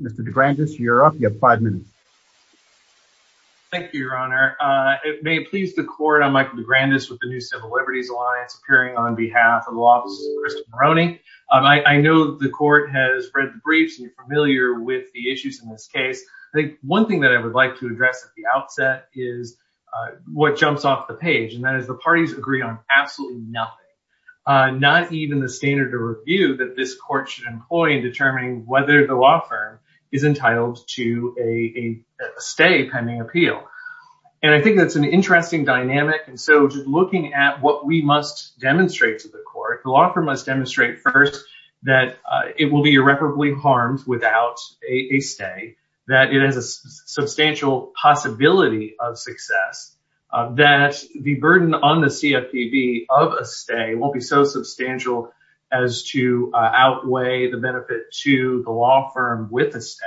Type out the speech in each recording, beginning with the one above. Mr. DeGrandis, you are up. You have five minutes. It may please the Court, I am Michael DeGrandis with the New Civil Liberties Alliance, appearing on behalf of the Law Offices of Crystal Moroney. I know the Court has read the briefs and you are familiar with the issues in this case. I think one thing that I would like to address at the outset is what jumps off the page and that is the parties agree on absolutely nothing. Not even the standard of review that this Court should employ in determining whether the law firm is entitled to a stay pending appeal. And I think that's an interesting dynamic. And so just looking at what we must demonstrate to the Court, the law firm must demonstrate first that it will be irreparably harmed without a stay, that it has a substantial possibility of success, that the burden on the CFPB of a stay won't be so substantial as to outweigh the benefit to the law firm with a stay.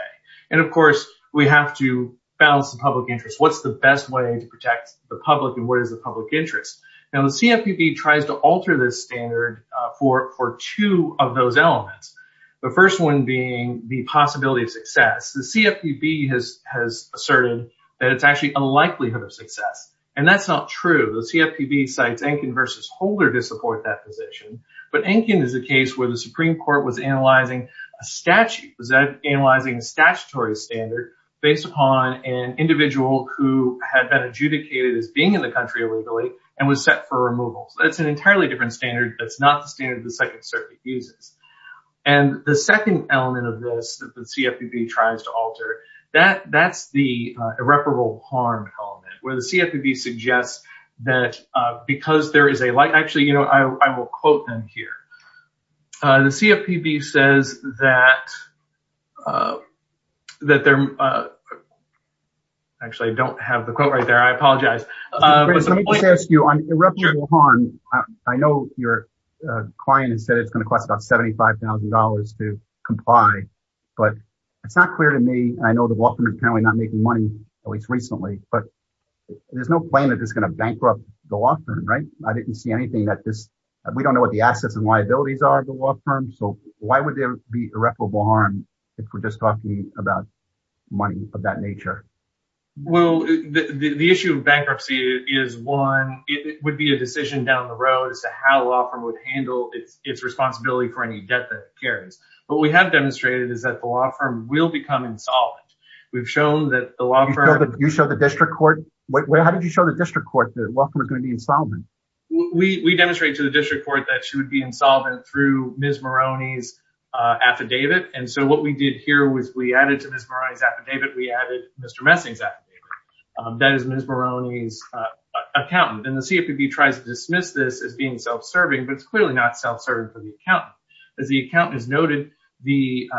And of course, we have to balance the public interest. What's the best way to protect the public and what is the public interest? Now the CFPB tries to alter this standard for two of those elements. The first one being the possibility of success. The CFPB has asserted that it's actually a likelihood of success. And that's not true. The CFPB cites Enkin v. Holder to support that position. But Enkin is a case where the Supreme Court has been in the country illegally and was set for removal. That's an entirely different standard. That's not the standard the Second Circuit uses. And the second element of this that the CFPB tries to alter, that's the irreparable harm element, where the CFPB suggests that because there is a, actually, you know, I will quote them here. The CFPB says that that they're, actually, I don't have the quote right there. I apologize. Let me just ask you, on irreparable harm, I know your client has said it's going to cost about $75,000 to comply. But it's not clear to me, I know the law firm is apparently not making money, at least recently, but there's no claim that it's going to bankrupt the law firm, right? I didn't see anything that this, we don't know what the assets and liabilities are of the law firm. So why would there be irreparable harm, if we're just talking about money of that nature? Well, the issue of bankruptcy is one, it would be a decision down the road as to how a law firm would handle its responsibility for any debt that it carries. What we have demonstrated is that the law firm will become insolvent. We've shown that the law firm... You show the district court? Wait, how did you show the district court that the law firm is going to be insolvent? We demonstrate to the district court that she would be insolvent through Ms. Maroney's affidavit. And so what we did here was we added to Ms. Maroney's affidavit, we added Mr. Messing's affidavit. That is Ms. Maroney's accountant. And the CFPB tries to dismiss this as being self-serving, but it's clearly not self-serving for the accountant. As the accountant has noted, the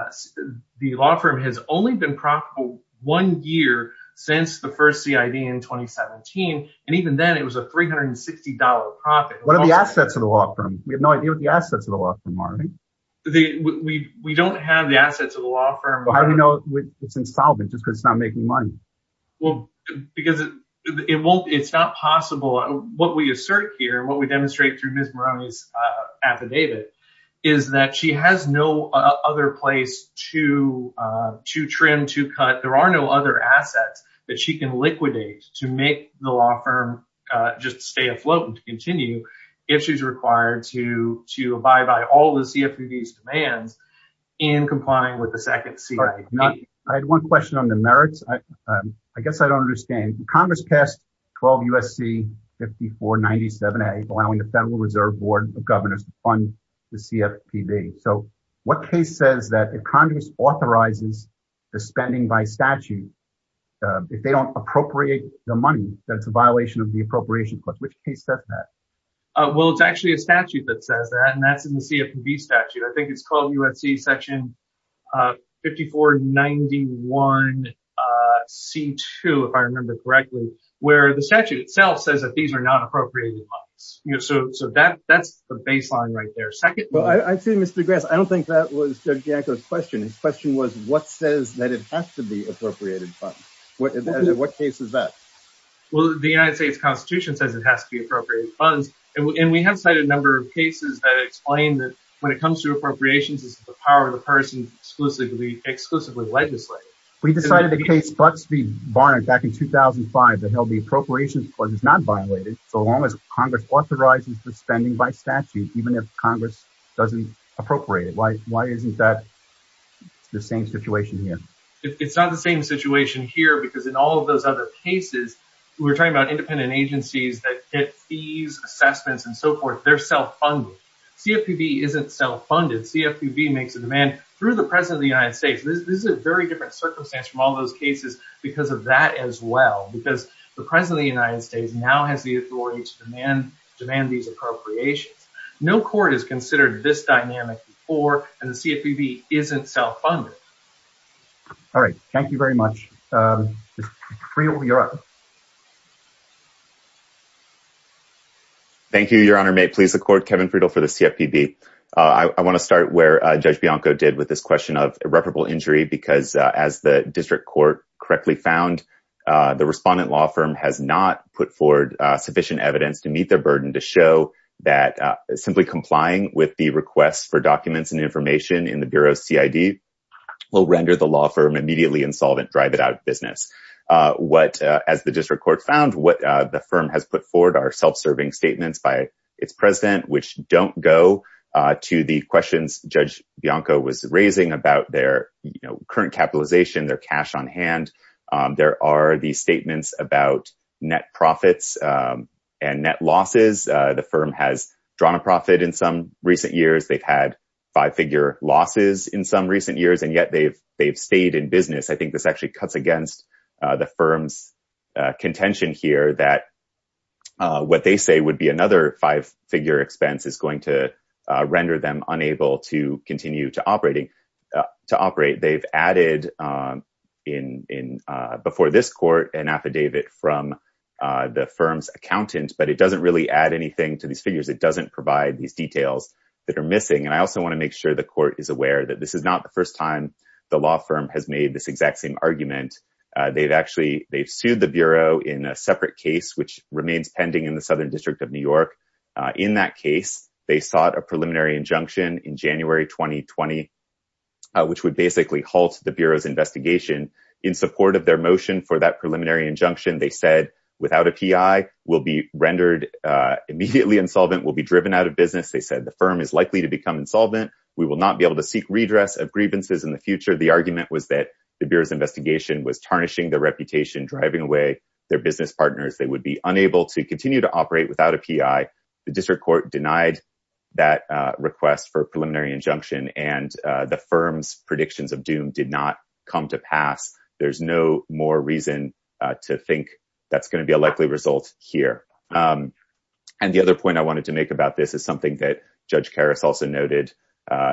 law firm has only been profitable one year since the first CID in 2017. And even then, it was a $360 profit. What are the assets of the law firm? We have no idea what the assets of the law firm are. We don't have the assets of the law firm. But how do we know it's insolvent just because it's not making money? Well, because it's not possible. What we assert here, what we demonstrate through Ms. Maroney's affidavit is that she has no other place to trim, there are no other assets that she can liquidate to make the law firm just stay afloat and continue if she's required to abide by all the CFPB's demands in complying with the second CID. I had one question on the merits. I guess I don't understand. Congress passed 12 U.S.C. 5497A, allowing the Federal Reserve Board of Governors to fund the CFPB. So what case says that if Congress authorizes the spending by statute, if they don't appropriate the money, that's a violation of the appropriation clause? Which case says that? Well, it's actually a statute that says that, and that's in the CFPB statute. I think it's called U.S.C. section 5491C2, if I remember correctly, where the statute itself says that these are not appropriated funds. So that's the baseline right there. Well, I see, Mr. Grass, I don't think that was Judge Bianco's question. His question was, what says that it has to be appropriated funds? What case is that? Well, the United States Constitution says it has to be appropriated funds, and we have cited a number of cases that explain that when it comes to appropriations, it's the power of the person exclusively legislating. We decided the case Bucks v. Congress authorizes the spending by statute, even if Congress doesn't appropriate it. Why isn't that the same situation here? It's not the same situation here, because in all of those other cases, we're talking about independent agencies that get fees, assessments, and so forth. They're self-funded. CFPB isn't self-funded. CFPB makes a demand through the President of the United States. This is a very different circumstance from all those cases because of that as well, because the President of the United States now has the authority to demand these appropriations. No court has considered this dynamic before, and the CFPB isn't self-funded. All right. Thank you very much. Mr. Friedel, you're up. Thank you, Your Honor. May it please the Court, Kevin Friedel for the CFPB. I want to start where Judge Bianco did with this question of irreparable injury, because as the district court correctly found, the respondent law firm has not put forward sufficient evidence to meet their burden to show that simply complying with the request for documents and information in the Bureau's CID will render the law firm immediately insolvent, drive it out of business. As the district court found, what the firm has put forward are self-serving statements by its president, which don't go to the questions Judge Bianco was raising about their current capitalization, their cash on hand. There are these statements about net profits and net losses. The firm has drawn a profit in some recent years. They've had five-figure losses in some recent years, and yet they've stayed in business. I think this actually cuts against the firm's contention here that what they say would be another five-figure expense is going to be provided before this Court, an affidavit from the firm's accountant, but it doesn't really add anything to these figures. It doesn't provide these details that are missing. I also want to make sure the Court is aware that this is not the first time the law firm has made this exact same argument. They've sued the Bureau in a separate case, which remains pending in the Southern District of New York. In that case, they sought a preliminary injunction in January 2020, which would basically halt the Bureau's investigation. In support of their motion for that preliminary injunction, they said, without a PI, we'll be rendered immediately insolvent. We'll be driven out of business. They said the firm is likely to become insolvent. We will not be able to seek redress of grievances in the future. The argument was that the Bureau's investigation was tarnishing their reputation, driving away their business partners. They would be unable to continue to operate without a PI. The District Court denied that request for the firm's predictions of doom did not come to pass. There's no more reason to think that's going to be a likely result here. The other point I wanted to make about this is something that Judge Karas also noted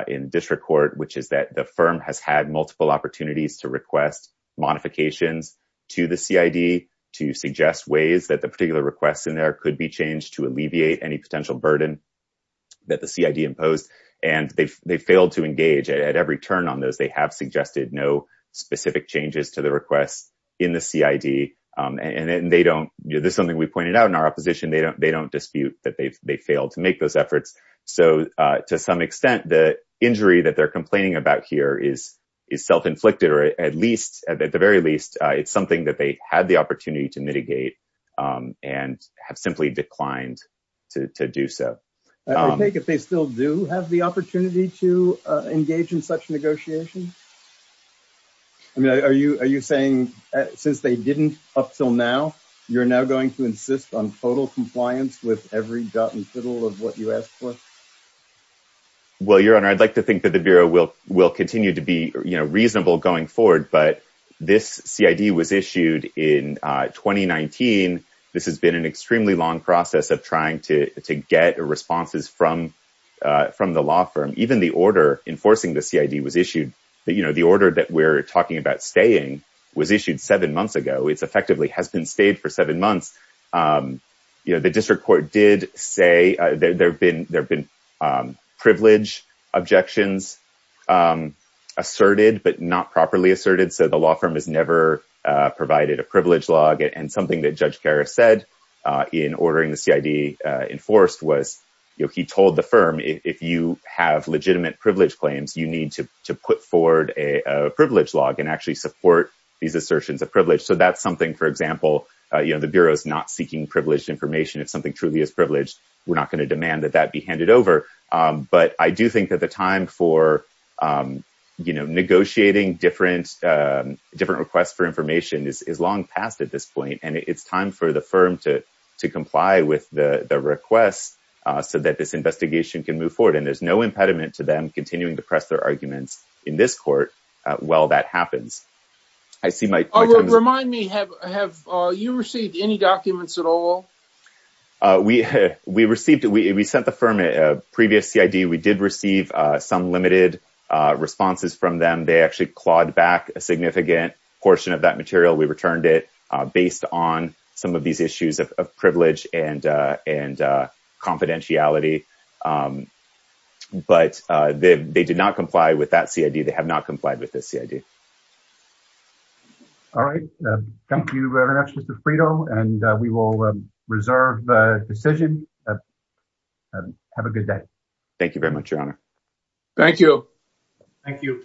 in District Court, which is that the firm has had multiple opportunities to request modifications to the CID to suggest ways that the particular requests in there could alleviate any potential burden that the CID imposed. They failed to engage at every turn on those. They have suggested no specific changes to the requests in the CID. This is something we pointed out in our opposition. They don't dispute that they failed to make those efforts. To some extent, the injury that they're complaining about here is self-inflicted. At the very least, it's something that they had the opportunity to mitigate and have simply declined to do so. I take it they still do have the opportunity to engage in such negotiations? Are you saying since they didn't up till now, you're now going to insist on total compliance with every dot and fiddle of what you asked for? Well, Your Honor, I'd like to think that we'll continue to be reasonable going forward, but this CID was issued in 2019. This has been an extremely long process of trying to get responses from the law firm. Even the order enforcing the CID was issued. The order that we're talking about staying was issued seven months ago. It's effectively has been stayed for seven months. The District Court did say there have been privilege objections asserted, but not properly asserted. The law firm has never provided a privilege log. Something that Judge Karras said in ordering the CID enforced was he told the firm, if you have legitimate privilege claims, you need to put forward a privilege log and actually support these assertions of privilege. That's something, for example, the Bureau is not seeking privileged information. If something truly is privileged, we're not going to demand that that be handed over. But I do think that the time for negotiating different requests for information is long past at this point. It's time for the firm to comply with the request so that this investigation can move forward. There's no impediment to them continuing to press their arguments in this court while that happens. I see my time- Remind me, have you received any documents at all? We sent the firm a previous CID. We did receive some limited responses from them. They actually clawed back a significant portion of that material. We returned it based on some of these issues of privilege and confidentiality. But they did not comply with that CID. They have not complied with this CID. All right. Thank you very much, Mr. Frito. We will reserve the decision. Have a good day. Thank you very much, Your Honor. Thank you. Thank you.